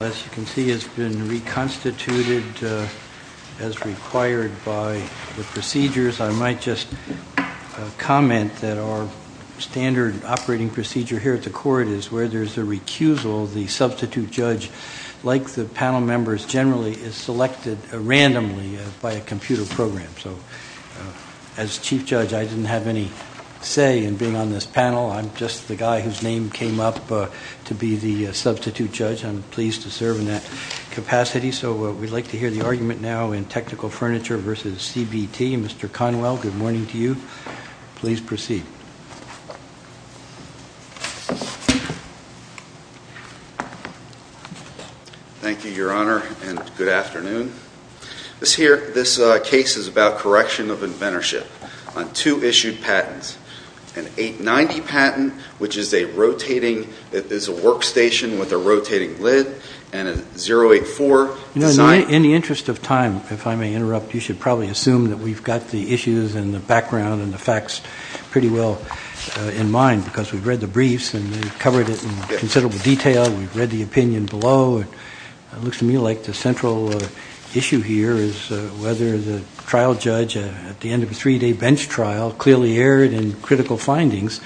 As you can see, it's been reconstituted as required by the procedures. I might just comment that our standard operating procedure here at the court is where there's a recusal, the substitute judge, like the panel members generally, is selected randomly by a computer program, so as chief judge, I didn't have any say in being on this panel. I'm just the guy whose name came up to be the substitute judge. I'm pleased to serve in that capacity, so we'd like to hear the argument now in Technical Furniture v. CBT. Mr. Conwell, good morning to you. Please proceed. Thank you, Your Honor, and good afternoon. This case is about correction of inventorship on two issued patents, an 890 patent, which is a workstation with a rotating lid, and a 084. In the interest of time, if I may interrupt, you should probably assume that we've got the issues and the background and the facts pretty well in mind, because we've read the briefs and we've covered it in considerable detail, we've read the opinion below, and it looks to me like the central issue here is whether the trial judge at the end of a three-day bench trial clearly erred in critical findings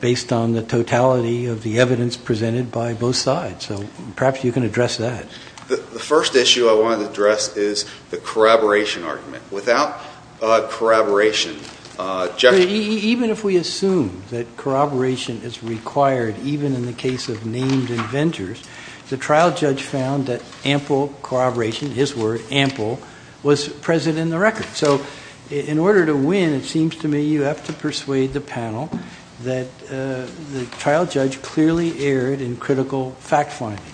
based on the totality of the evidence presented by both sides, so perhaps you can address that. The first issue I want to address is the corroboration argument. Without corroboration, Jeffrey— Even if we assume that corroboration is required, even in the case of named inventors, the trial judge found that ample corroboration, his word, ample, was present in the record. So in order to win, it seems to me you have to persuade the panel that the trial judge clearly erred in critical fact findings.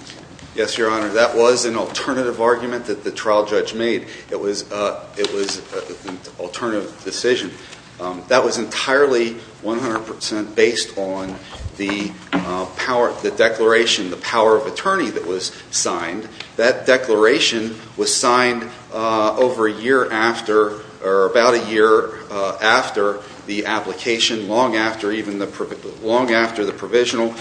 Yes, Your Honor, that was an alternative argument that the trial judge made. It was an alternative decision. That was entirely 100 percent based on the declaration, the power of attorney that was signed. That declaration was signed over a year after or about a year after the application, long after even the—long after the provisional,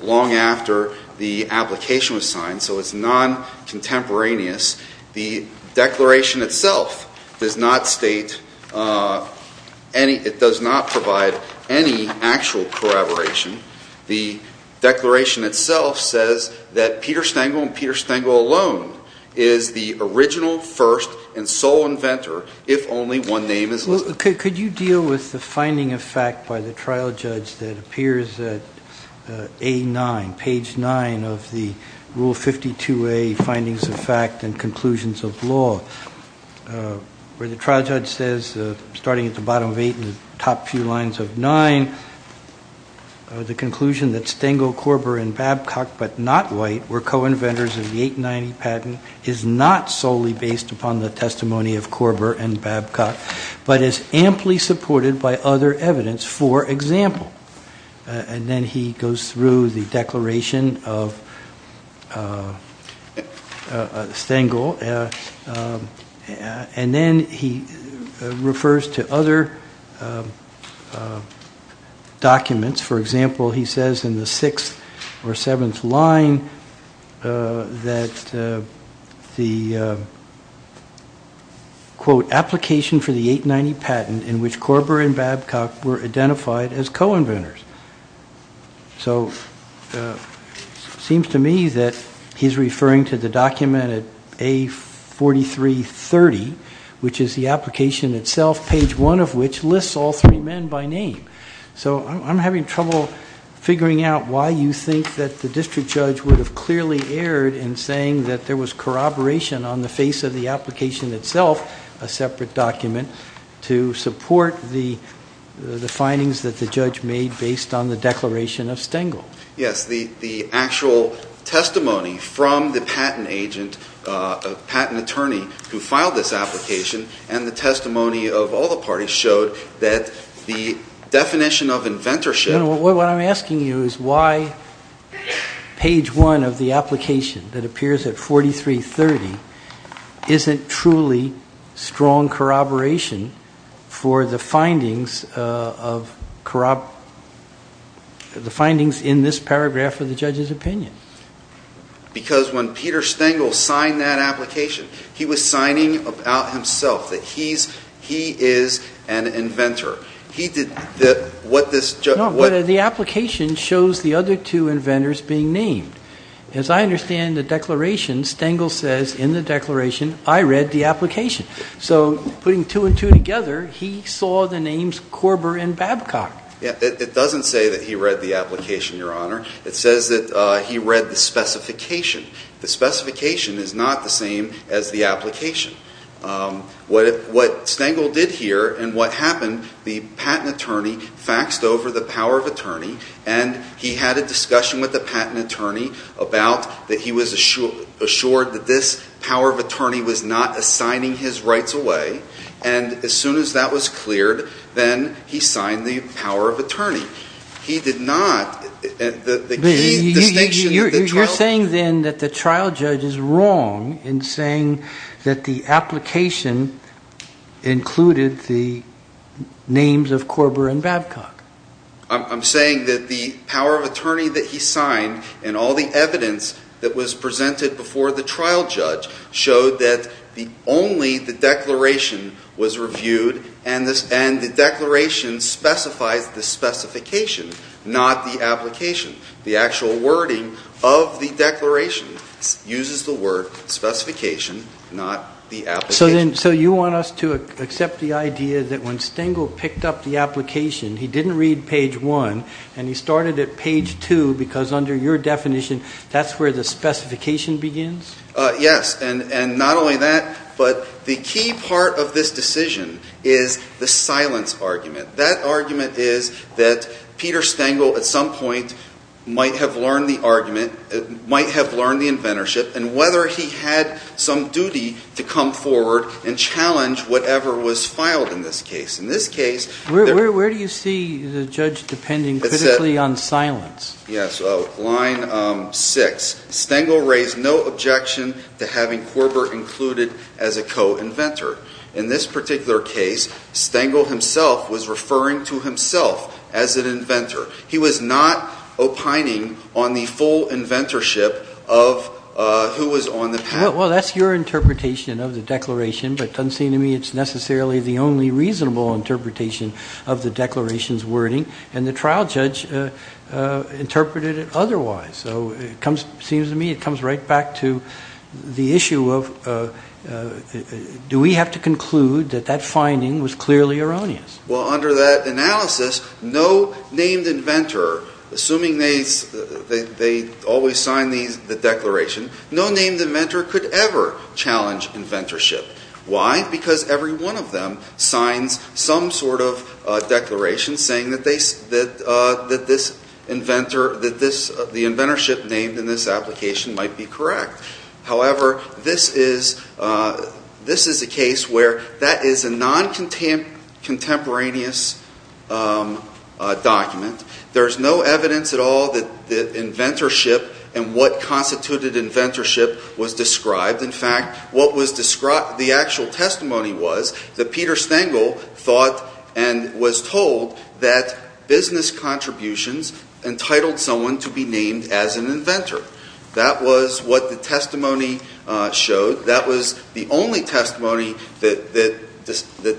long after the application was signed, so it's non-contemporaneous. The declaration itself does not state any—it does not provide any actual corroboration. The declaration itself says that Peter Stengel and Peter Stengel alone is the original, first, and sole inventor if only one name is listed. Could you deal with the finding of fact by the trial judge that appears at A9, page 9 of the Rule 52A, Findings of Fact and Conclusions of Law, where the trial judge says, starting at the bottom of 8 and the top few lines of 9, the conclusion that Stengel, Korber, and Babcock, but not White, were co-inventors of the 890 patent is not solely based upon the testimony of Korber and Babcock, but is amply supported by other evidence, for example. And then he goes through the declaration of Stengel, and then he refers to other documents. For example, he says in the sixth or seventh line that the, quote, application for the 890 patent in which Korber and Babcock were identified as co-inventors. So it seems to me that he's referring to the document at A4330, which is the application itself, page 1 of which lists all three men by name. So I'm having trouble figuring out why you think that the district judge would have clearly erred in saying that there was corroboration on the face of the application itself, a separate document, to support the findings that the judge made based on the declaration of Stengel. Yes, the actual testimony from the patent agent, patent attorney who filed this application and the testimony of all the parties showed that the definition of inventorship. What I'm asking you is why page 1 of the application that appears at 4330 isn't truly strong corroboration for the findings in this paragraph of the judge's opinion. Because when Peter Stengel signed that application, he was signing about himself, that he is an inventor. No, but the application shows the other two inventors being named. As I understand the declaration, Stengel says in the declaration, I read the application. So putting two and two together, he saw the names Korber and Babcock. It doesn't say that he read the application, Your Honor. It says that he read the specification. The specification is not the same as the application. What Stengel did here and what happened, the patent attorney faxed over the power of attorney, and he had a discussion with the patent attorney about that he was assured that this power of attorney was not assigning his rights away. And as soon as that was cleared, then he signed the power of attorney. He did not. You're saying then that the trial judge is wrong in saying that the application included the names of Korber and Babcock. I'm saying that the power of attorney that he signed and all the evidence that was presented before the trial judge showed that only the declaration was reviewed and the declaration specifies the specification, not the application. The actual wording of the declaration uses the word specification, not the application. So you want us to accept the idea that when Stengel picked up the application, he didn't read page one, and he started at page two because under your definition, that's where the specification begins? Yes, and not only that, but the key part of this decision is the silence argument. That argument is that Peter Stengel at some point might have learned the argument, might have learned the inventorship, and whether he had some duty to come forward and challenge whatever was filed in this case. Where do you see the judge depending critically on silence? Yes, line six. Stengel raised no objection to having Korber included as a co-inventor. In this particular case, Stengel himself was referring to himself as an inventor. He was not opining on the full inventorship of who was on the panel. Well, that's your interpretation of the declaration, but it doesn't seem to me it's necessarily the only reasonable interpretation of the declaration's wording, and the trial judge interpreted it otherwise. So it seems to me it comes right back to the issue of do we have to conclude that that finding was clearly erroneous? Well, under that analysis, no named inventor, assuming they always sign the declaration, no named inventor could ever challenge inventorship. Why? Because every one of them signs some sort of declaration saying that the inventorship named in this application might be correct. However, this is a case where that is a non-contemporaneous document. There's no evidence at all that inventorship and what constituted inventorship was described. In fact, the actual testimony was that Peter Stengel thought and was told that business contributions entitled someone to be named as an inventor. That was what the testimony showed. That was the only testimony that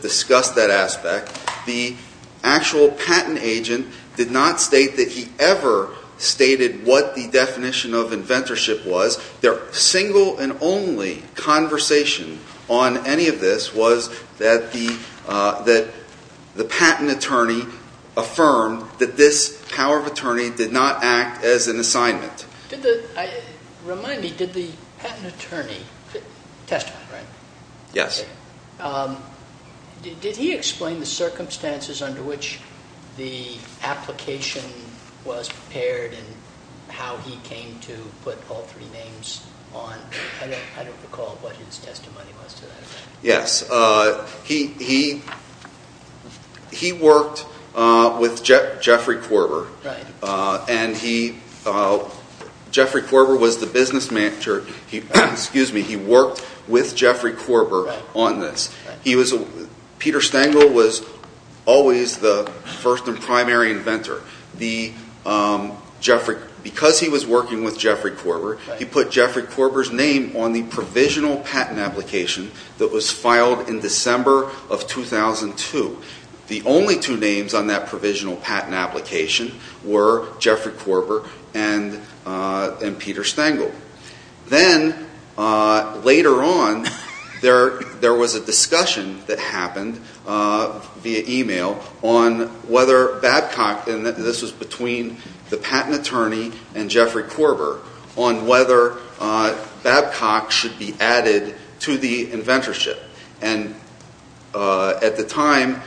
discussed that aspect. The actual patent agent did not state that he ever stated what the definition of inventorship was. Their single and only conversation on any of this was that the patent attorney affirmed that this power of attorney did not act as an assignment. Remind me, did the patent attorney, testimony, right? Yes. Did he explain the circumstances under which the application was prepared and how he came to put all three names on? I don't recall what his testimony was to that effect. He worked with Jeffrey Korber. Jeffrey Korber was the business manager. He worked with Jeffrey Korber on this. Peter Stengel was always the first and primary inventor. Because he was working with Jeffrey Korber, he put Jeffrey Korber's name on the provisional patent application that was filed in December of 2002. The only two names on that provisional patent application were Jeffrey Korber and Peter Stengel. Then, later on, there was a discussion that happened via email on whether Babcock, and this was between the patent attorney and Jeffrey Korber, on whether Babcock should be added to the inventorship. At the time,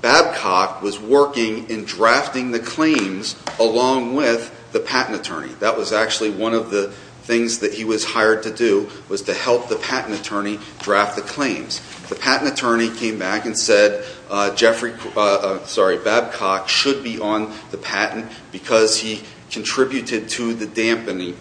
Babcock was working in drafting the claims along with the patent attorney. That was actually one of the things that he was hired to do, was to help the patent attorney draft the claims. The patent attorney came back and said Babcock should be on the patent because he contributed to the dampener.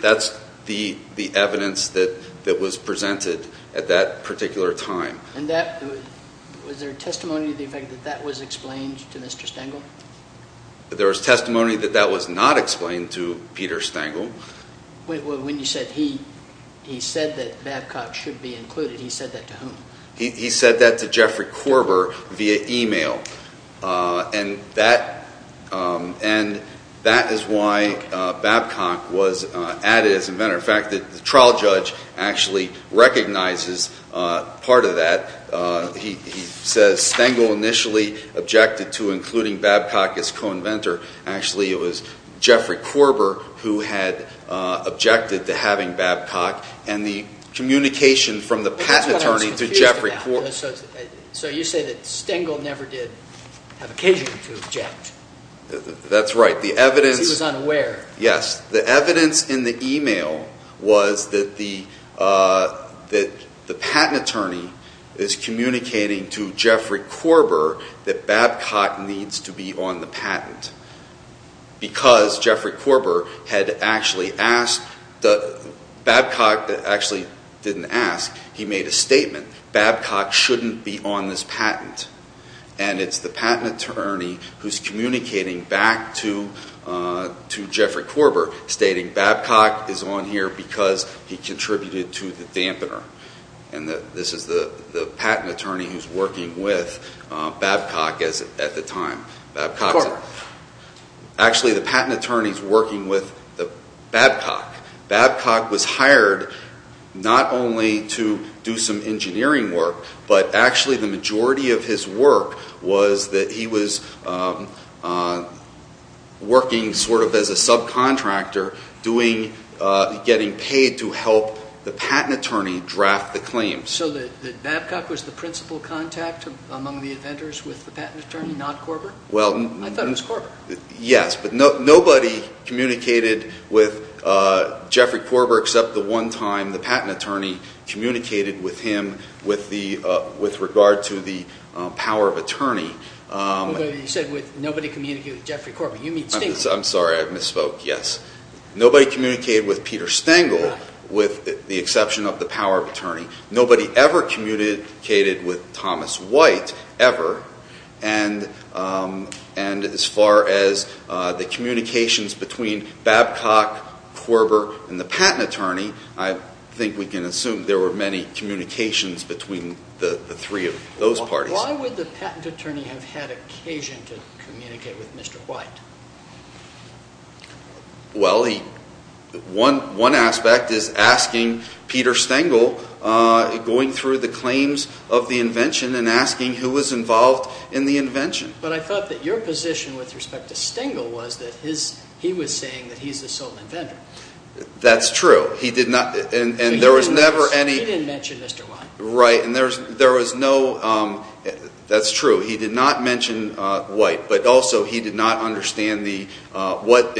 That's the evidence that was presented at that particular time. Was there testimony to the effect that that was explained to Mr. Stengel? There was testimony that that was not explained to Peter Stengel. When you said he said that Babcock should be included, he said that to whom? He said that to Jeffrey Korber via email. That is why Babcock was added as inventor. In fact, the trial judge actually recognizes part of that. He says Stengel initially objected to including Babcock as co-inventor. Actually, it was Jeffrey Korber who had objected to having Babcock, and the communication from the patent attorney to Jeffrey Korber. So you say that Stengel never did have occasion to object. That's right. Because he was unaware. Yes. The evidence in the email was that the patent attorney is communicating to Jeffrey Korber that Babcock needs to be on the patent. Because Babcock actually didn't ask. He made a statement, Babcock shouldn't be on this patent. And it's the patent attorney who's communicating back to Jeffrey Korber, stating Babcock is on here because he contributed to the dampener. And this is the patent attorney who's working with Babcock at the time. Actually, the patent attorney's working with Babcock. Babcock was hired not only to do some engineering work, but actually the majority of his work was that he was working sort of as a subcontractor, getting paid to help the patent attorney draft the claims. So Babcock was the principal contact among the inventors with the patent attorney, not Korber? I thought it was Korber. Yes. But nobody communicated with Jeffrey Korber except the one time the patent attorney communicated with him with regard to the power of attorney. You said nobody communicated with Jeffrey Korber. You mean Stengel. I'm sorry. I misspoke. Yes. Nobody communicated with Peter Stengel with the exception of the power of attorney. Nobody ever communicated with Thomas White ever. And as far as the communications between Babcock, Korber, and the patent attorney, I think we can assume there were many communications between the three of those parties. Why would the patent attorney have had occasion to communicate with Mr. White? Well, one aspect is asking Peter Stengel going through the claims of the invention and asking who was involved in the invention. But I thought that your position with respect to Stengel was that he was saying that he's the sole inventor. That's true. He didn't mention Mr. White. Right. And there was no – that's true. He did not mention White, but also he did not understand what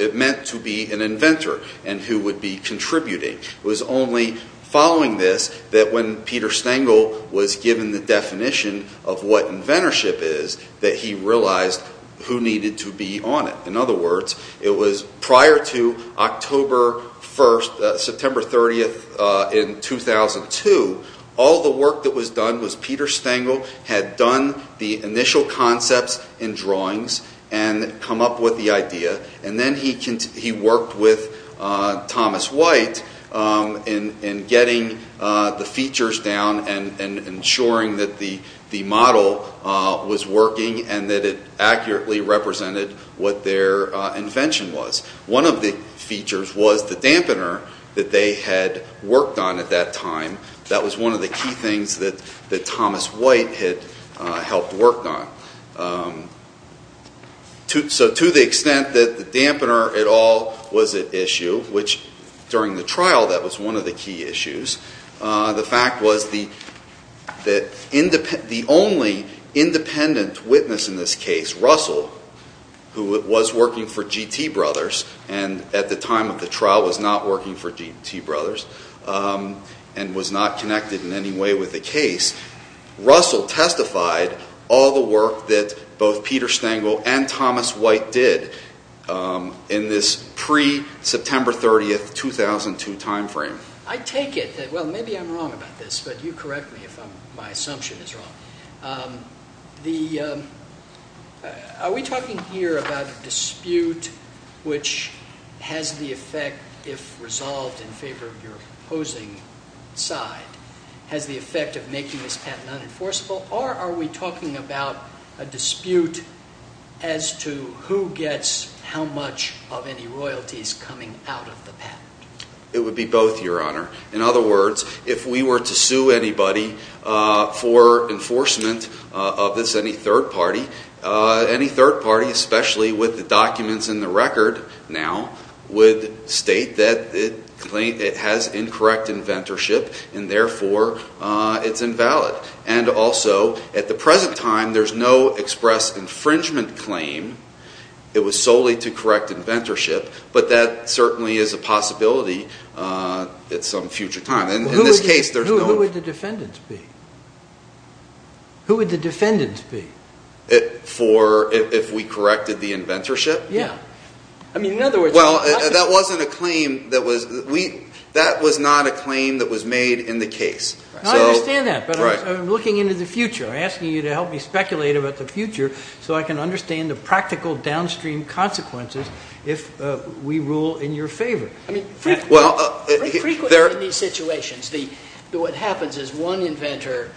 it meant to be an inventor and who would be contributing. It was only following this that when Peter Stengel was given the definition of what inventorship is that he realized who needed to be on it. In other words, it was prior to October 1st, September 30th, in 2002, all the work that was done was Peter Stengel had done the initial concepts and drawings and come up with the idea. And then he worked with Thomas White in getting the features down and ensuring that the model was working and that it accurately represented what their invention was. One of the features was the dampener that they had worked on at that time. That was one of the key things that Thomas White had helped work on. So to the extent that the dampener at all was at issue, which during the trial that was one of the key issues, the fact was that the only independent witness in this case, Russell, who was working for GT Brothers and at the time of the trial was not working for GT Brothers and was not connected in any way with the case, Russell testified all the work that both Peter Stengel and Thomas White did in this pre-September 30th, 2002 time frame. Well, maybe I'm wrong about this, but you correct me if my assumption is wrong. Are we talking here about a dispute which has the effect, if resolved in favor of your opposing side, has the effect of making this patent unenforceable? Or are we talking about a dispute as to who gets how much of any royalties coming out of the patent? It would be both, Your Honor. In other words, if we were to sue anybody for enforcement of this, any third party, any third party, especially with the documents in the record now, would state that it has incorrect inventorship and therefore it's invalid. And also, at the present time, there's no express infringement claim. It was solely to correct inventorship, but that certainly is a possibility at some future time. Who would the defendants be? Who would the defendants be? If we corrected the inventorship? Yeah. Well, that wasn't a claim that was, that was not a claim that was made in the case. I understand that, but I'm looking into the future. I'm asking you to help me speculate about the future so I can understand the practical downstream consequences if we rule in your favor. I mean, frequently in these situations, what happens is one inventor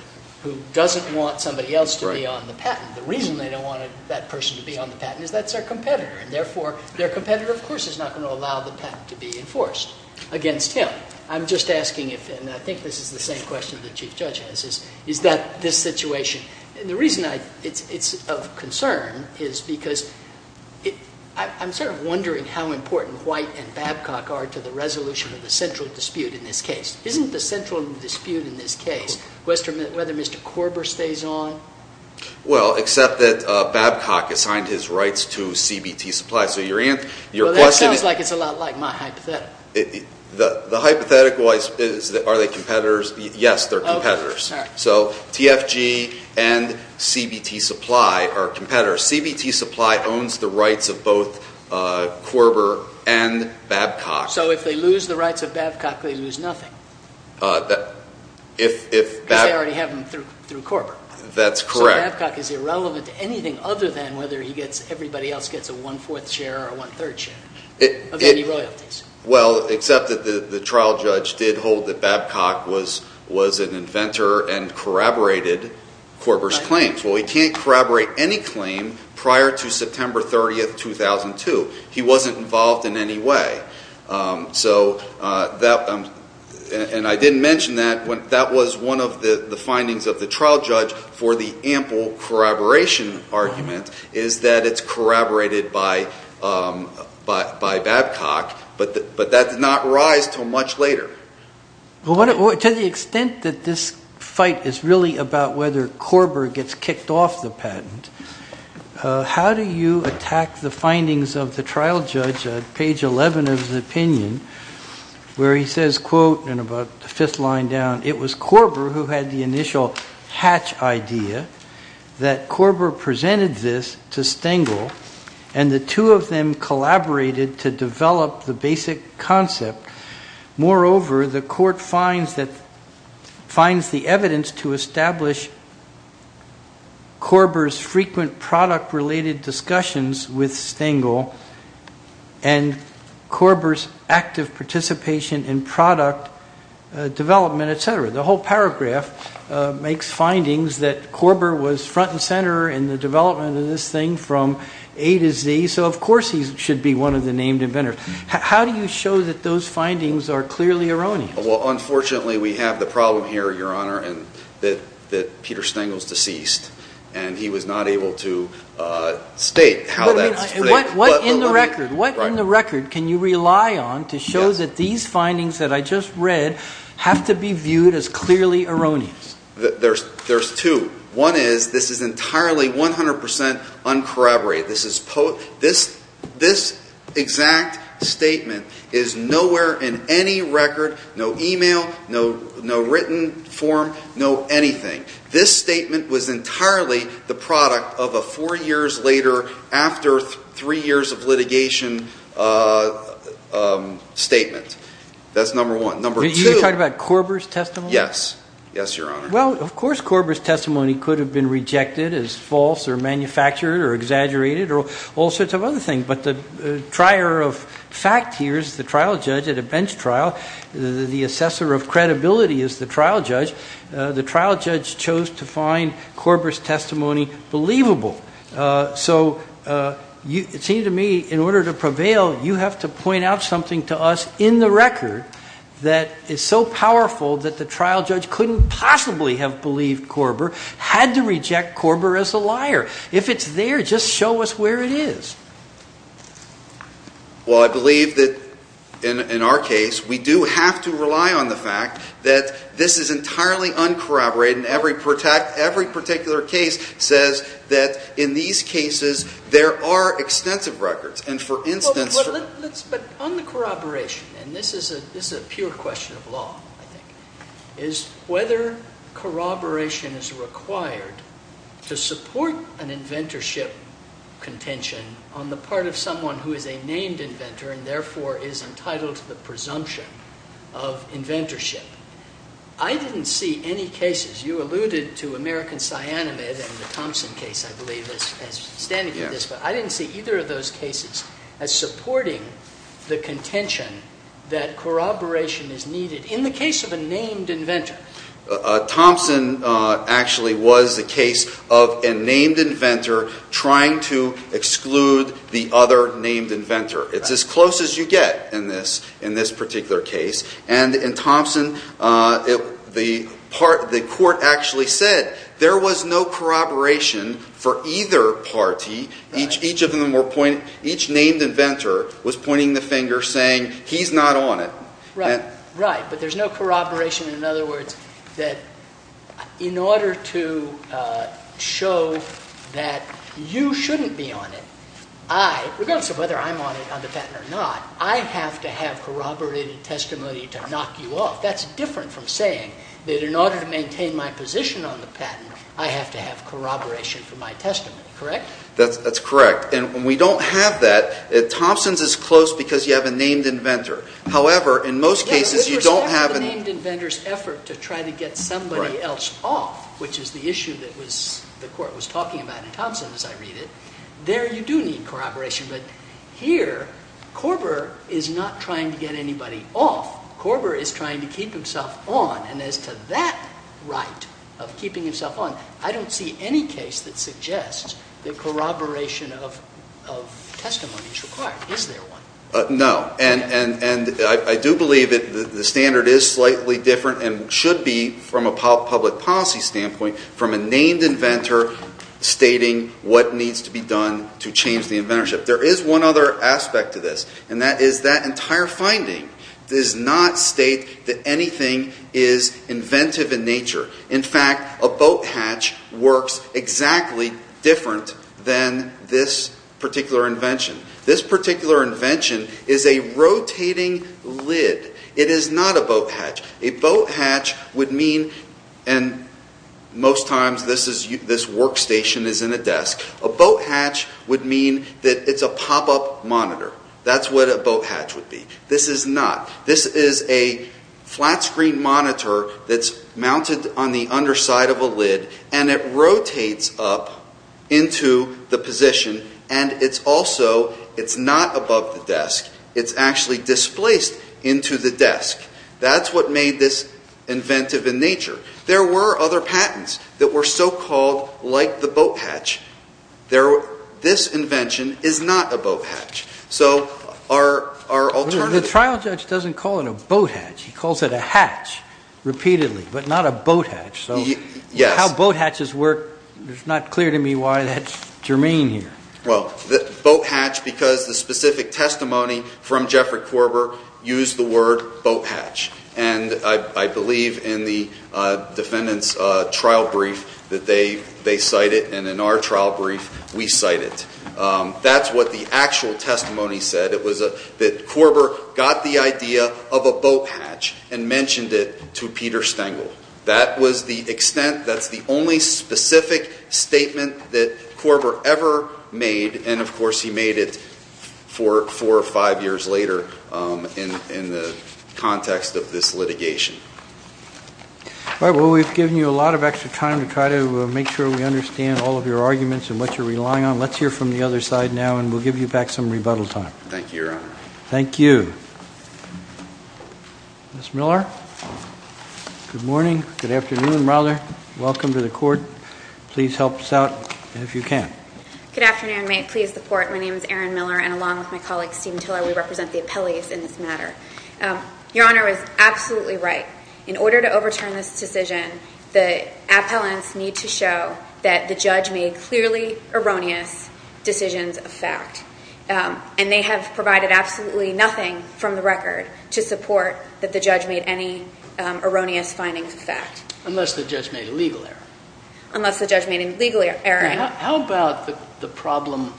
who doesn't want somebody else to be on the patent, the reason they don't want that person to be on the patent is that's their competitor. And therefore, their competitor, of course, is not going to allow the patent to be enforced against him. Right. I'm just asking if, and I think this is the same question the Chief Judge has, is that this situation, the reason it's of concern is because I'm sort of wondering how important White and Babcock are to the resolution of the central dispute in this case. Isn't the central dispute in this case whether Mr. Korber stays on? Well, except that Babcock assigned his rights to CBT supplies. Well, that sounds like it's a lot like my hypothetical. The hypothetical is are they competitors? Yes, they're competitors. So TFG and CBT supply are competitors. CBT supply owns the rights of both Korber and Babcock. So if they lose the rights of Babcock, they lose nothing because they already have him through Korber. That's correct. So Babcock is irrelevant to anything other than whether everybody else gets a one-fourth share or a one-third share of any royalties. Well, except that the trial judge did hold that Babcock was an inventor and corroborated Korber's claims. Well, he can't corroborate any claim prior to September 30, 2002. He wasn't involved in any way. And I didn't mention that. That was one of the findings of the trial judge for the ample corroboration argument is that it's corroborated by Babcock. But that did not rise until much later. Well, to the extent that this fight is really about whether Korber gets kicked off the patent, how do you attack the findings of the trial judge at page 11 of the opinion where he says, quote, in about the fifth line down, it was Korber who had the initial hatch idea that Korber presented this to Stengel, and the two of them collaborated to develop the basic concept. Moreover, the court finds the evidence to establish Korber's frequent product-related discussions with Stengel and Korber's active participation in product development, et cetera. The whole paragraph makes findings that Korber was front and center in the development of this thing from A to Z. So, of course, he should be one of the named inventors. But how do you show that those findings are clearly erroneous? Well, unfortunately, we have the problem here, Your Honor, that Peter Stengel is deceased, and he was not able to state how that is. What in the record can you rely on to show that these findings that I just read have to be viewed as clearly erroneous? There's two. One is this is entirely 100 percent uncorroborated. This exact statement is nowhere in any record, no e-mail, no written form, no anything. This statement was entirely the product of a four years later, after three years of litigation statement. That's number one. You're talking about Korber's testimony? Yes. Yes, Your Honor. Well, of course Korber's testimony could have been rejected as false or manufactured or exaggerated or all sorts of other things. But the trier of fact here is the trial judge at a bench trial. The assessor of credibility is the trial judge. The trial judge chose to find Korber's testimony believable. So it seemed to me in order to prevail, you have to point out something to us in the record that is so powerful that the trial judge couldn't possibly have believed Korber, had to reject Korber as a liar. If it's there, just show us where it is. Well, I believe that in our case we do have to rely on the fact that this is entirely uncorroborated. Every particular case says that in these cases there are extensive records. But on the corroboration, and this is a pure question of law, I think, is whether corroboration is required to support an inventorship contention on the part of someone who is a named inventor and therefore is entitled to the presumption of inventorship. I didn't see any cases, you alluded to American cyanamide and the Thompson case, I believe, as standing for this, but I didn't see either of those cases as supporting the contention that corroboration is needed in the case of a named inventor. Thompson actually was the case of a named inventor trying to exclude the other named inventor. It's as close as you get in this particular case. And in Thompson, the court actually said there was no corroboration for either party. Each named inventor was pointing the finger saying, he's not on it. Right, but there's no corroboration. In other words, that in order to show that you shouldn't be on it, I, regardless of whether I'm on the patent or not, I have to have corroborated testimony to knock you off. That's different from saying that in order to maintain my position on the patent, I have to have corroboration for my testimony, correct? That's correct. And we don't have that. Thompson's is close because you have a named inventor. However, in most cases, you don't have any. With respect to the named inventor's effort to try to get somebody else off, which is the issue that the court was talking about in Thompson, as I read it, there you do need corroboration. But here, Korber is not trying to get anybody off. Korber is trying to keep himself on. And as to that right of keeping himself on, I don't see any case that suggests that corroboration of testimony is required. Is there one? No. And I do believe that the standard is slightly different and should be from a public policy standpoint from a named inventor stating what needs to be done to change the inventorship. There is one other aspect to this, and that is that entire finding does not state that anything is inventive in nature. In fact, a boat hatch works exactly different than this particular invention. This particular invention is a rotating lid. It is not a boat hatch. A boat hatch would mean, and most times this workstation is in a desk, a boat hatch would mean that it's a pop-up monitor. That's what a boat hatch would be. This is not. This is a flat-screen monitor that's mounted on the underside of a lid, and it rotates up into the position, and it's also, it's not above the desk. It's actually displaced into the desk. That's what made this inventive in nature. There were other patents that were so-called like the boat hatch. This invention is not a boat hatch. So our alternative- The trial judge doesn't call it a boat hatch. He calls it a hatch repeatedly, but not a boat hatch. Yes. How boat hatches work, it's not clear to me why that's germane here. Well, boat hatch because the specific testimony from Jeffrey Korber used the word boat hatch. And I believe in the defendant's trial brief that they cite it, and in our trial brief, we cite it. That's what the actual testimony said. It was that Korber got the idea of a boat hatch and mentioned it to Peter Stengel. That was the extent. That's the only specific statement that Korber ever made, and, of course, he made it four or five years later in the context of this litigation. All right. Well, we've given you a lot of extra time to try to make sure we understand all of your arguments and what you're relying on. Let's hear from the other side now, and we'll give you back some rebuttal time. Thank you, Your Honor. Thank you. Ms. Miller, good morning, good afternoon, rather. Welcome to the court. Please help us out if you can. Good afternoon. May it please the Court. My name is Erin Miller, and along with my colleague Stephen Tiller, we represent the appellees in this matter. Your Honor is absolutely right. In order to overturn this decision, the appellants need to show that the judge made clearly erroneous decisions of fact, and they have provided absolutely nothing from the record to support that the judge made any erroneous findings of fact. Unless the judge made a legal error. Unless the judge made a legal error. How about the problem,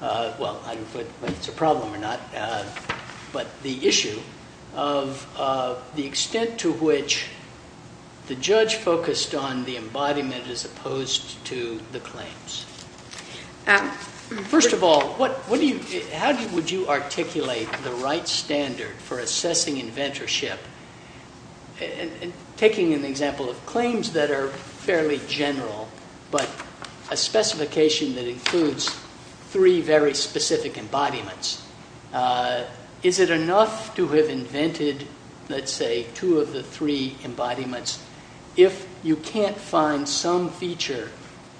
well, I don't know if it's a problem or not, but the issue of the extent to which the judge focused on the embodiment as opposed to the claims. First of all, how would you articulate the right standard for assessing inventorship, taking an example of claims that are fairly general, but a specification that includes three very specific embodiments. Is it enough to have invented, let's say, two of the three embodiments, if you can't find some feature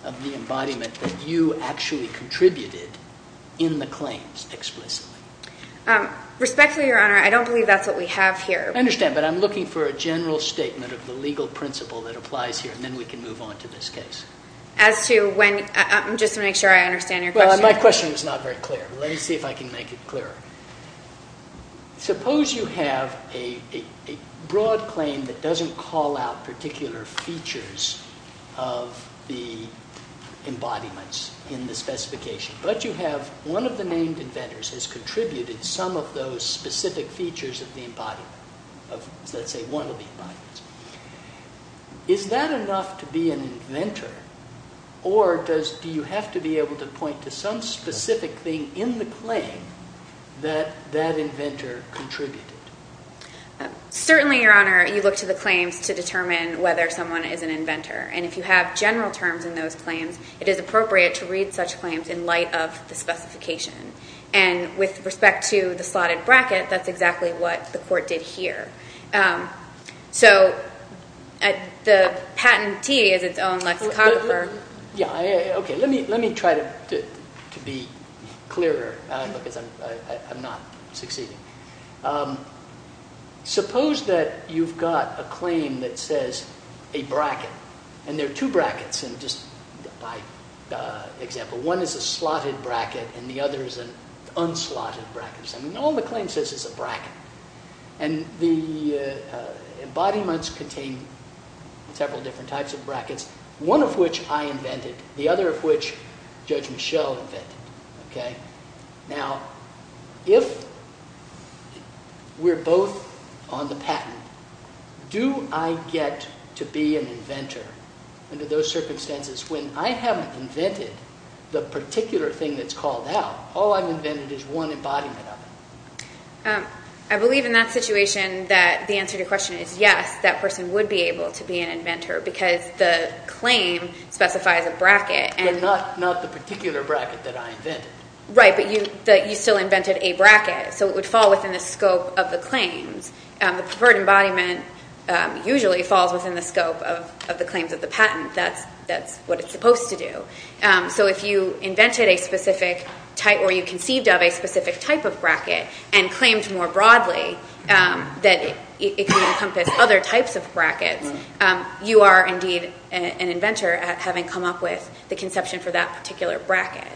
of the embodiment that you actually contributed in the claims explicitly? Respectfully, Your Honor, I don't believe that's what we have here. I understand, but I'm looking for a general statement of the legal principle that applies here, and then we can move on to this case. As to when, I'm just going to make sure I understand your question. Well, my question was not very clear. Let me see if I can make it clearer. Suppose you have a broad claim that doesn't call out particular features of the embodiments in the specification, but you have one of the named inventors has contributed some of those specific features of the embodiment, of, let's say, one of the embodiments. Is that enough to be an inventor, or do you have to be able to point to some specific thing in the claim that that inventor contributed? Certainly, Your Honor, you look to the claims to determine whether someone is an inventor, and if you have general terms in those claims, it is appropriate to read such claims in light of the specification. And with respect to the slotted bracket, that's exactly what the court did here. So the patentee is its own lexicographer. Okay, let me try to be clearer because I'm not succeeding. Suppose that you've got a claim that says a bracket, and there are two brackets, just by example. One is a slotted bracket, and the other is an unslotted bracket. All the claim says is a bracket. And the embodiments contain several different types of brackets, one of which I invented, the other of which Judge Michel invented. Now, if we're both on the patent, do I get to be an inventor under those circumstances when I haven't invented the particular thing that's called out? All I've invented is one embodiment of it. I believe in that situation that the answer to your question is yes, that person would be able to be an inventor because the claim specifies a bracket. But not the particular bracket that I invented. Right, but you still invented a bracket, so it would fall within the scope of the claims. The preferred embodiment usually falls within the scope of the claims of the patent. That's what it's supposed to do. So if you invented a specific type or you conceived of a specific type of bracket and claimed more broadly that it could encompass other types of brackets, you are indeed an inventor having come up with the conception for that particular bracket.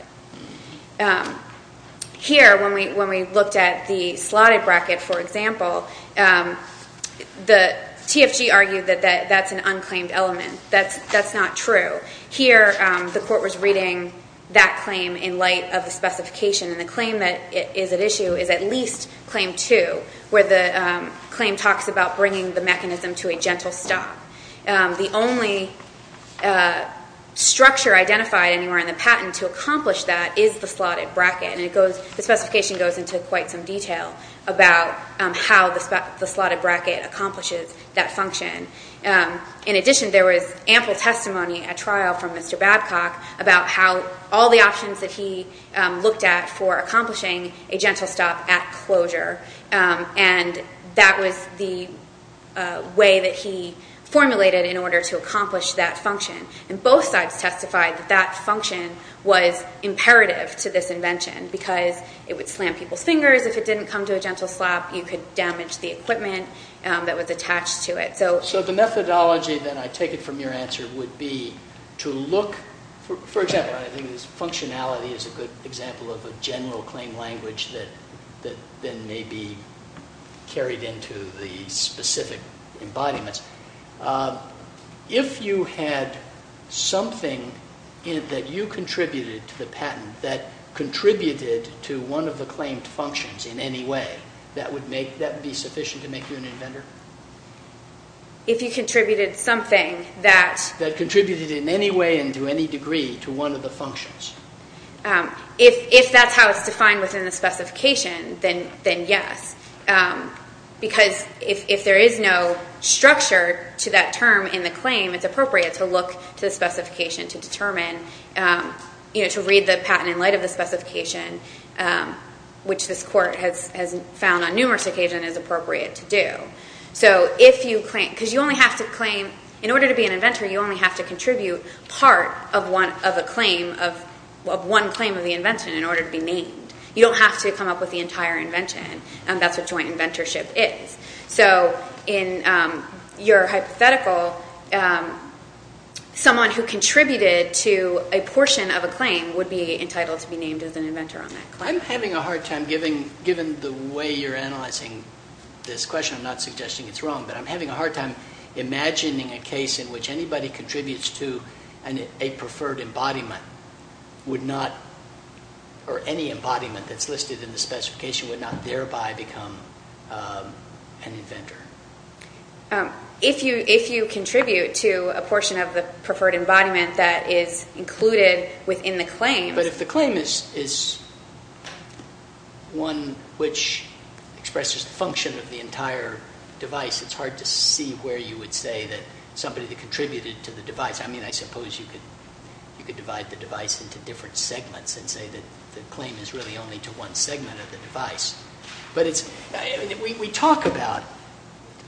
Here, when we looked at the slotted bracket, for example, the TFG argued that that's an unclaimed element. That's not true. Here, the court was reading that claim in light of the specification, and the claim that is at issue is at least claim two, where the claim talks about bringing the mechanism to a gentle stop. The only structure identified anywhere in the patent to accomplish that is the slotted bracket, and the specification goes into quite some detail about how the slotted bracket accomplishes that function. In addition, there was ample testimony at trial from Mr. Babcock about how all the options that he looked at for accomplishing a gentle stop at closure, and that was the way that he formulated in order to accomplish that function. And both sides testified that that function was imperative to this invention because it would slam people's fingers. If it didn't come to a gentle stop, you could damage the equipment that was attached to it. So the methodology, then, I take it from your answer would be to look – for example, I think functionality is a good example of a general claim language that then may be carried into the specific embodiments. If you had something that you contributed to the patent that contributed to one of the claimed functions in any way, that would be sufficient to make you an inventor? If you contributed something that – That contributed in any way and to any degree to one of the functions. If that's how it's defined within the specification, then yes. Because if there is no structure to that term in the claim, it's appropriate to look to the specification to determine – to read the patent in light of the specification, which this court has found on numerous occasions is appropriate to do. So if you – because you only have to claim – in order to be an inventor, you only have to contribute part of a claim – of one claim of the invention in order to be named. You don't have to come up with the entire invention. That's what joint inventorship is. So in your hypothetical, someone who contributed to a portion of a claim would be entitled to be named as an inventor on that claim. I'm having a hard time – given the way you're analyzing this question, I'm not suggesting it's wrong, but I'm having a hard time imagining a case in which anybody contributes to a preferred embodiment would not – or any embodiment that's listed in the specification would not thereby become an inventor. If you contribute to a portion of the preferred embodiment that is included within the claim – one which expresses the function of the entire device – it's hard to see where you would say that somebody contributed to the device. I mean, I suppose you could divide the device into different segments and say that the claim is really only to one segment of the device. But it's – we talk about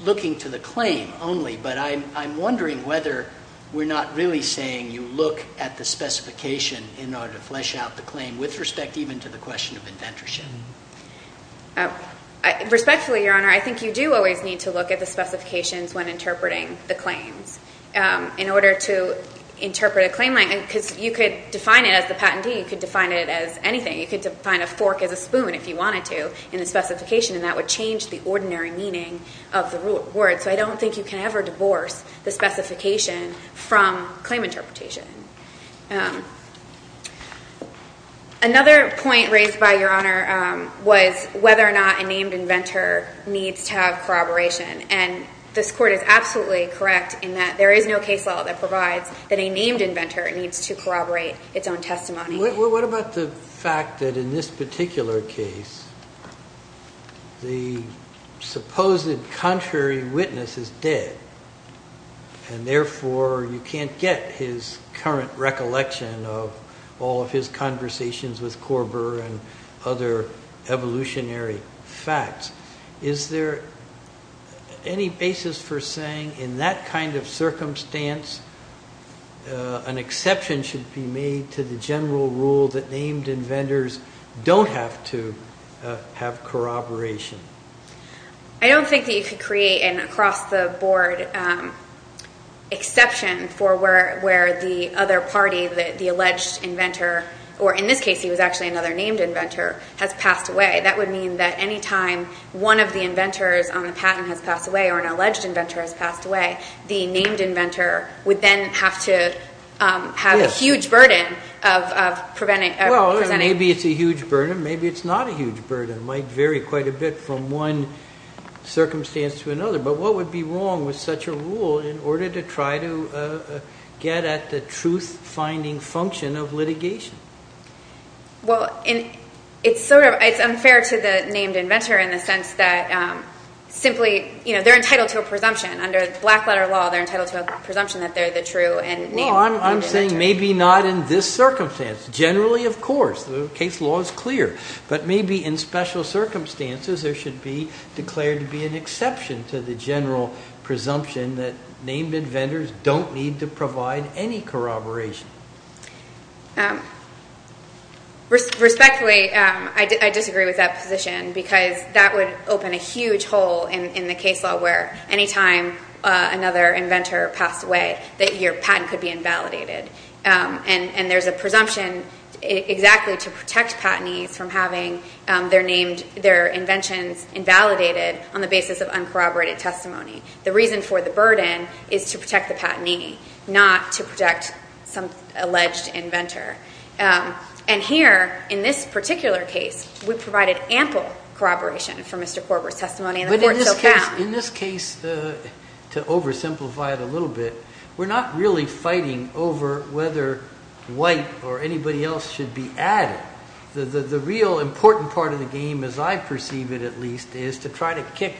looking to the claim only, but I'm wondering whether we're not really saying you look at the specification in order to flesh out the claim with respect even to the question of inventorship. Respectfully, Your Honor, I think you do always need to look at the specifications when interpreting the claims. In order to interpret a claim – because you could define it as the patentee, you could define it as anything. You could define a fork as a spoon if you wanted to in the specification, and that would change the ordinary meaning of the word. So I don't think you can ever divorce the specification from claim interpretation. Another point raised by Your Honor was whether or not a named inventor needs to have corroboration. And this Court is absolutely correct in that there is no case law that provides that a named inventor needs to corroborate its own testimony. What about the fact that in this particular case the supposed contrary witness is dead, and therefore you can't get his current recollection of all of his conversations with Korber and other evolutionary facts? Is there any basis for saying in that kind of circumstance an exception should be made to the general rule that named inventors don't have to have corroboration? I don't think that you could create an across-the-board exception for where the other party, the alleged inventor, or in this case he was actually another named inventor, has passed away. That would mean that any time one of the inventors on the patent has passed away or an alleged inventor has passed away, the named inventor would then have to have a huge burden of presenting – Maybe it's a huge burden. Maybe it's not a huge burden. It might vary quite a bit from one circumstance to another. But what would be wrong with such a rule in order to try to get at the truth-finding function of litigation? Well, it's unfair to the named inventor in the sense that simply they're entitled to a presumption. Under black-letter law, they're entitled to a presumption that they're the true named inventor. I'm saying maybe not in this circumstance. Generally, of course, the case law is clear. But maybe in special circumstances there should be declared to be an exception to the general presumption that named inventors don't need to provide any corroboration. Respectfully, I disagree with that position because that would open a huge hole in the case law where any time another inventor passed away that your patent could be invalidated. And there's a presumption exactly to protect patentees from having their inventions invalidated on the basis of uncorroborated testimony. The reason for the burden is to protect the patentee, not to protect some alleged inventor. And here, in this particular case, we provided ample corroboration for Mr. Korber's testimony and the court still found. But in this case, to oversimplify it a little bit, we're not really fighting over whether white or anybody else should be added. The real important part of the game, as I perceive it at least, is to try to kick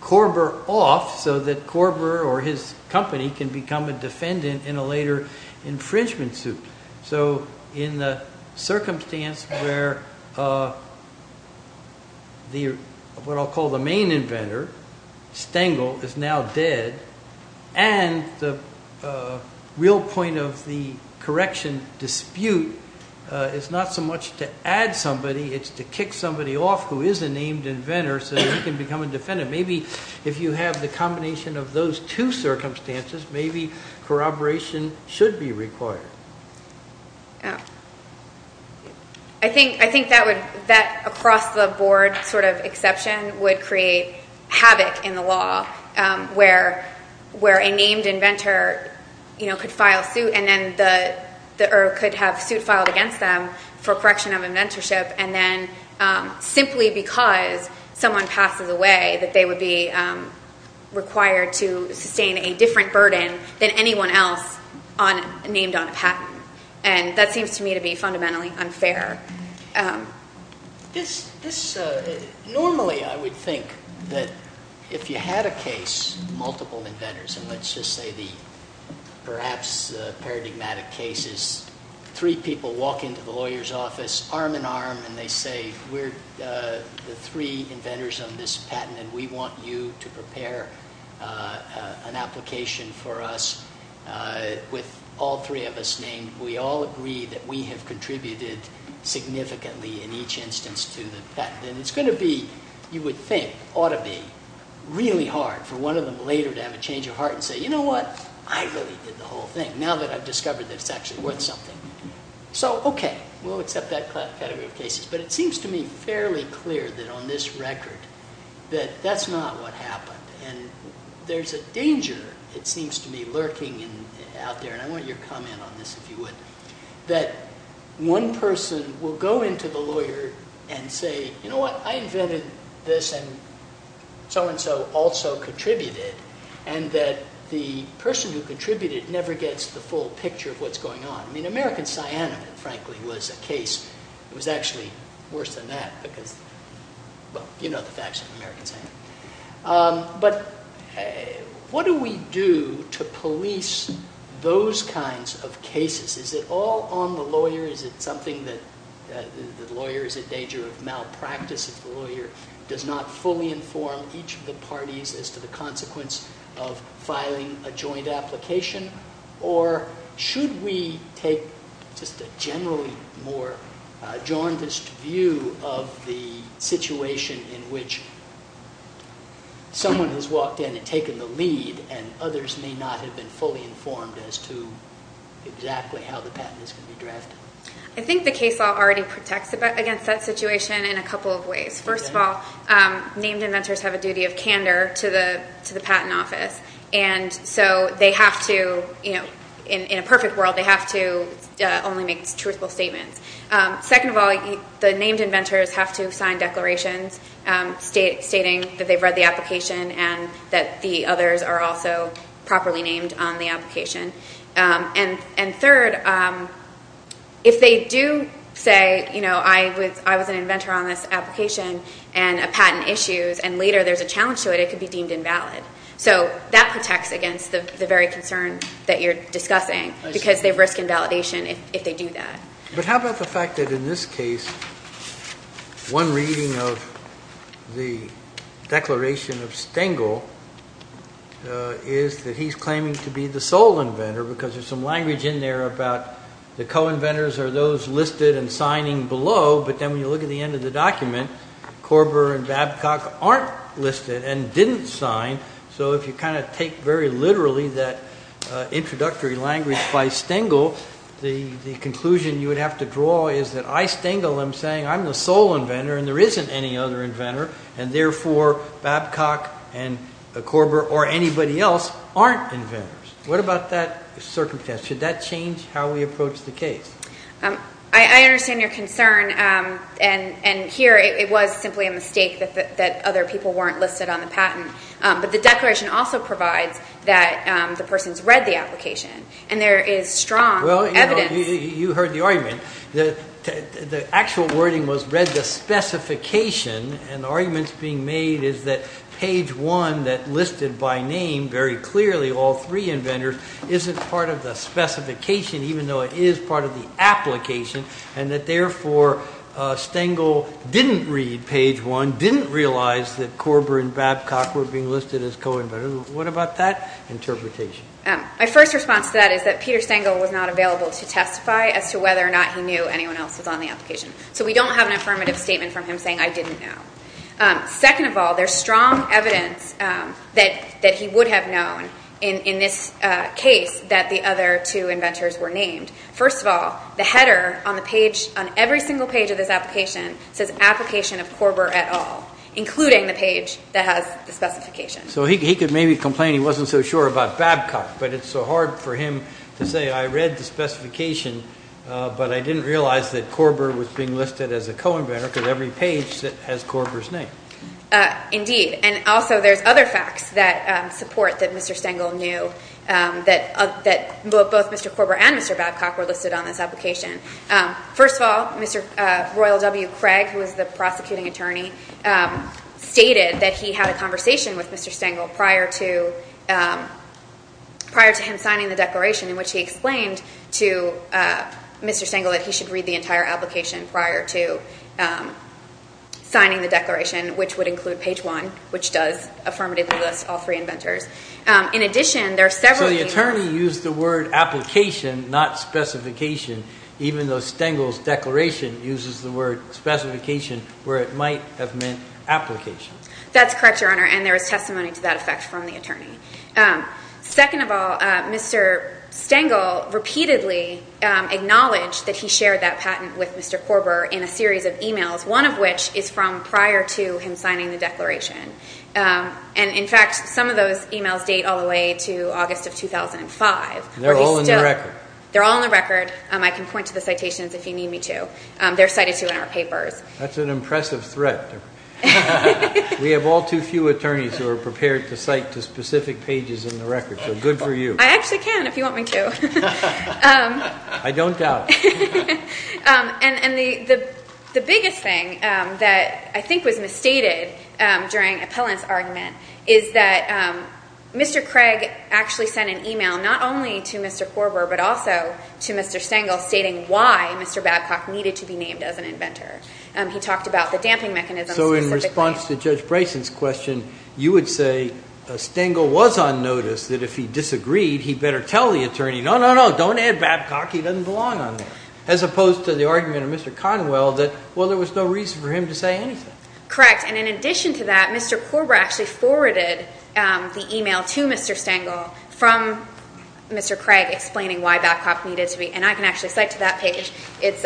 Korber off so that Korber or his company can become a defendant in a later infringement suit. So in the circumstance where what I'll call the main inventor, Stengel, is now dead, and the real point of the correction dispute is not so much to add somebody, it's to kick somebody off who is a named inventor so that he can become a defendant. Maybe if you have the combination of those two circumstances, maybe corroboration should be required. I think that across-the-board sort of exception would create havoc in the law, where a named inventor could file suit against them for correction of inventorship, and then simply because someone passes away that they would be required to sustain a different burden than anyone else named on a patent. And that seems to me to be fundamentally unfair. Normally I would think that if you had a case, multiple inventors, and let's just say the perhaps paradigmatic case is three people walk into the lawyer's office arm-in-arm and they say, We're the three inventors on this patent and we want you to prepare an application for us with all three of us named. We all agree that we have contributed significantly in each instance to the patent. And it's going to be, you would think, ought to be really hard for one of them later to have a change of heart and say, You know what? I really did the whole thing now that I've discovered that it's actually worth something. So, okay, we'll accept that category of cases. But it seems to me fairly clear that on this record that that's not what happened. And there's a danger, it seems to me, lurking out there, and I want your comment on this if you would, that one person will go into the lawyer and say, You know what? I invented this and so-and-so also contributed. And that the person who contributed never gets the full picture of what's going on. I mean, American Cyana, frankly, was a case. It was actually worse than that because, well, you know the facts of American Cyana. But what do we do to police those kinds of cases? Is it all on the lawyer? Is it something that the lawyer is in danger of malpractice if the lawyer does not fully inform each of the parties as to the consequence of filing a joint application? Or should we take just a generally more jaundiced view of the situation in which someone has walked in and taken the lead and others may not have been fully informed as to exactly how the patent is going to be drafted? I think the case law already protects against that situation in a couple of ways. First of all, named inventors have a duty of candor to the patent office. And so they have to, in a perfect world, they have to only make truthful statements. Second of all, the named inventors have to sign declarations stating that they've read the application and that the others are also properly named on the application. And third, if they do say, you know, I was an inventor on this application and a patent issues and later there's a challenge to it, it could be deemed invalid. So that protects against the very concern that you're discussing because they risk invalidation if they do that. But how about the fact that in this case, one reading of the declaration of Stengel is that he's claiming to be the sole inventor because there's some language in there about the co-inventors are those listed and signing below. But then when you look at the end of the document, Korber and Babcock aren't listed and didn't sign. So if you kind of take very literally that introductory language by Stengel, the conclusion you would have to draw is that I, Stengel, am saying I'm the sole inventor and there isn't any other inventor and therefore Babcock and Korber or anybody else aren't inventors. What about that circumstance? Should that change how we approach the case? I understand your concern. And here it was simply a mistake that other people weren't listed on the patent. But the declaration also provides that the person's read the application and there is strong evidence. Well, you heard the argument. The actual wording was read the specification and arguments being made is that page one that listed by name very clearly all three inventors isn't part of the specification even though it is part of the application and that therefore Stengel didn't read page one, didn't realize that Korber and Babcock were being listed as co-inventors. What about that interpretation? My first response to that is that Peter Stengel was not available to testify as to whether or not he knew anyone else was on the application. So we don't have an affirmative statement from him saying I didn't know. Second of all, there's strong evidence that he would have known in this case that the other two inventors were named. First of all, the header on every single page of this application says application of Korber et al., including the page that has the specification. So he could maybe complain he wasn't so sure about Babcock, but it's so hard for him to say I read the specification but I didn't realize that Korber was being listed as a co-inventor because every page has Korber's name. Indeed. And also there's other facts that support that Mr. Stengel knew, that both Mr. Korber and Mr. Babcock were listed on this application. First of all, Mr. Royal W. Craig, who was the prosecuting attorney, stated that he had a conversation with Mr. Stengel prior to him signing the declaration, in which he explained to Mr. Stengel that he should read the entire application prior to signing the declaration, which would include page one, which does affirmatively list all three inventors. So the attorney used the word application, not specification, even though Stengel's declaration uses the word specification where it might have meant application. That's correct, Your Honor, and there is testimony to that effect from the attorney. Second of all, Mr. Stengel repeatedly acknowledged that he shared that patent with Mr. Korber in a series of e-mails, one of which is from prior to him signing the declaration. And, in fact, some of those e-mails date all the way to August of 2005. They're all in the record. They're all in the record. I can point to the citations if you need me to. They're cited, too, in our papers. That's an impressive threat. We have all too few attorneys who are prepared to cite to specific pages in the record, so good for you. I actually can if you want me to. I don't doubt it. And the biggest thing that I think was misstated during Appellant's argument is that Mr. Craig actually sent an e-mail, not only to Mr. Korber but also to Mr. Stengel stating why Mr. Babcock needed to be named as an inventor. He talked about the damping mechanism. So in response to Judge Bryson's question, you would say Stengel was on notice that if he disagreed, he better tell the attorney, no, no, no, don't add Babcock. He doesn't belong on there. As opposed to the argument of Mr. Conwell that, well, there was no reason for him to say anything. Correct, and in addition to that, Mr. Korber actually forwarded the e-mail to Mr. Stengel from Mr. Craig explaining why Babcock needed to be, and I can actually cite to that page. It's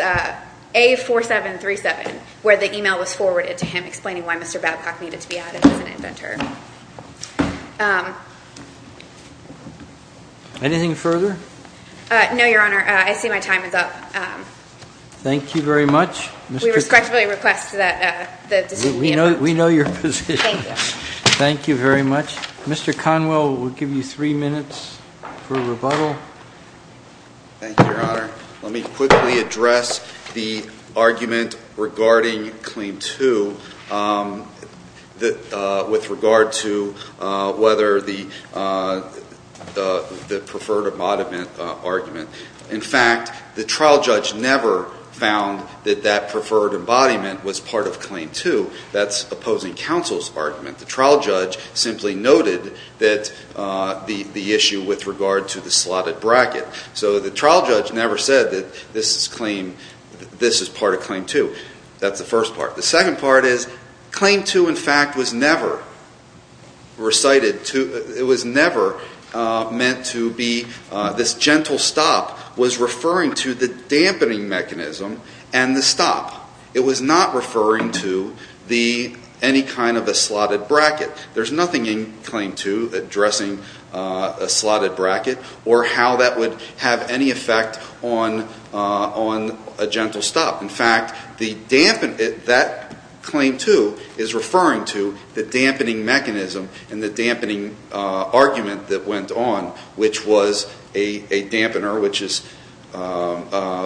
A4737 where the e-mail was forwarded to him explaining why Mr. Babcock needed to be added as an inventor. Anything further? No, Your Honor. I see my time is up. Thank you very much. We respectfully request that this be adjourned. We know your position. Thank you. Thank you very much. Mr. Conwell, we'll give you three minutes for rebuttal. Thank you, Your Honor. Let me quickly address the argument regarding Claim 2 with regard to whether the preferred embodiment argument. In fact, the trial judge never found that that preferred embodiment was part of Claim 2. That's opposing counsel's argument. The trial judge simply noted the issue with regard to the slotted bracket. So the trial judge never said that this is part of Claim 2. That's the first part. The second part is Claim 2, in fact, was never recited to, it was never meant to be, this gentle stop was referring to the dampening mechanism and the stop. It was not referring to any kind of a slotted bracket. There's nothing in Claim 2 addressing a slotted bracket or how that would have any effect on a gentle stop. In fact, that Claim 2 is referring to the dampening mechanism and the dampening argument that went on, which was a dampener,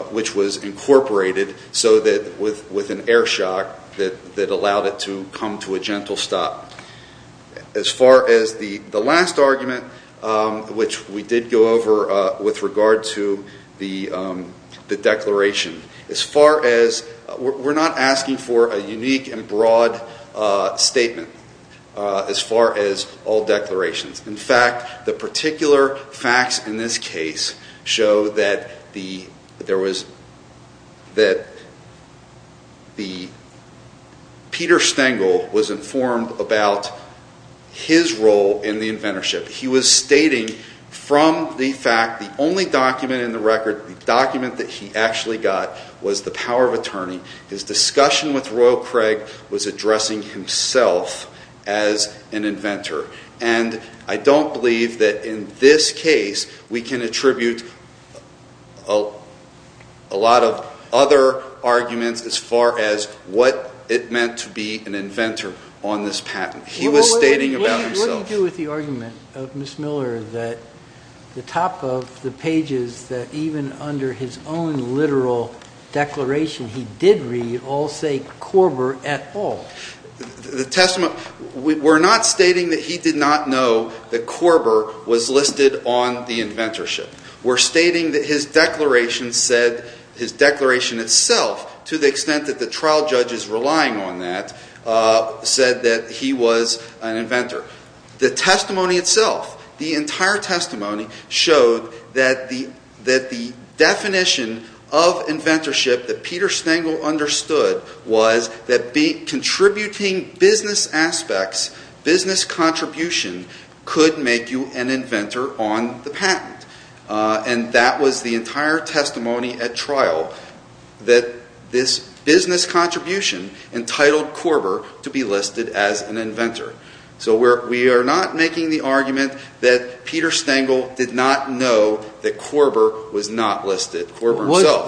which was incorporated with an air shock that allowed it to come to a gentle stop. As far as the last argument, which we did go over with regard to the declaration, we're not asking for a unique and broad statement as far as all declarations. In fact, the particular facts in this case show that Peter Stengel was informed about his role in the inventorship. He was stating from the fact the only document in the record, the document that he actually got, was the power of attorney. His discussion with Royal Craig was addressing himself as an inventor. I don't believe that in this case we can attribute a lot of other arguments as far as what it meant to be an inventor on this patent. He was stating about himself. What do you do with the argument of Ms. Miller that the top of the pages, that even under his own literal declaration he did read, all say Korber et al.? We're not stating that he did not know that Korber was listed on the inventorship. We're stating that his declaration itself, to the extent that the trial judge is relying on that, said that he was an inventor. The testimony itself, the entire testimony, showed that the definition of inventorship that Peter Stengel understood was that contributing business aspects, business contribution, could make you an inventor on the patent. That was the entire testimony at trial, that this business contribution entitled Korber to be listed as an inventor. So we are not making the argument that Peter Stengel did not know that Korber was not listed. Korber himself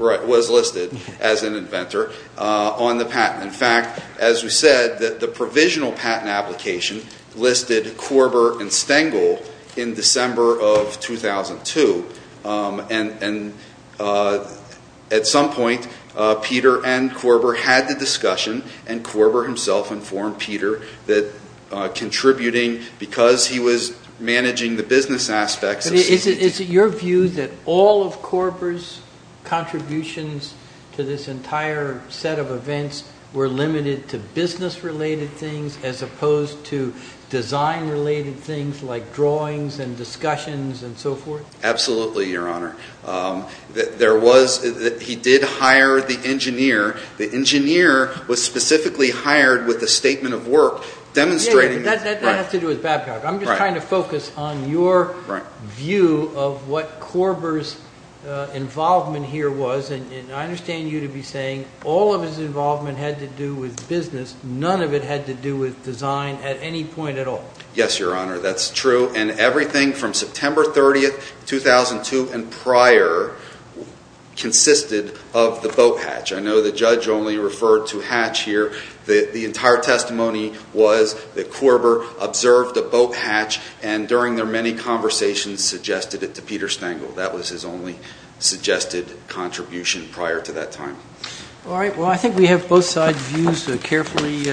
was listed as an inventor on the patent. In fact, as we said, the provisional patent application listed Korber and Stengel in December of 2002. At some point, Peter and Korber had the discussion, and Korber himself informed Peter that contributing, because he was managing the business aspects... Is it your view that all of Korber's contributions to this entire set of events were limited to business-related things as opposed to design-related things like drawings and discussions and so forth? Absolutely, Your Honor. He did hire the engineer. The engineer was specifically hired with a statement of work demonstrating... That has to do with Babcock. I'm just trying to focus on your view of what Korber's involvement here was. I understand you to be saying all of his involvement had to do with business. None of it had to do with design at any point at all. Yes, Your Honor, that's true. And everything from September 30, 2002 and prior consisted of the boat hatch. I know the judge only referred to hatch here. The entire testimony was that Korber observed a boat hatch and, during their many conversations, suggested it to Peter Stengel. That was his only suggested contribution prior to that time. All right. Well, I think we have both sides' views carefully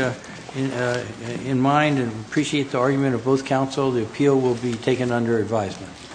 in mind, and appreciate the argument of both counsel. The appeal will be taken under advisement.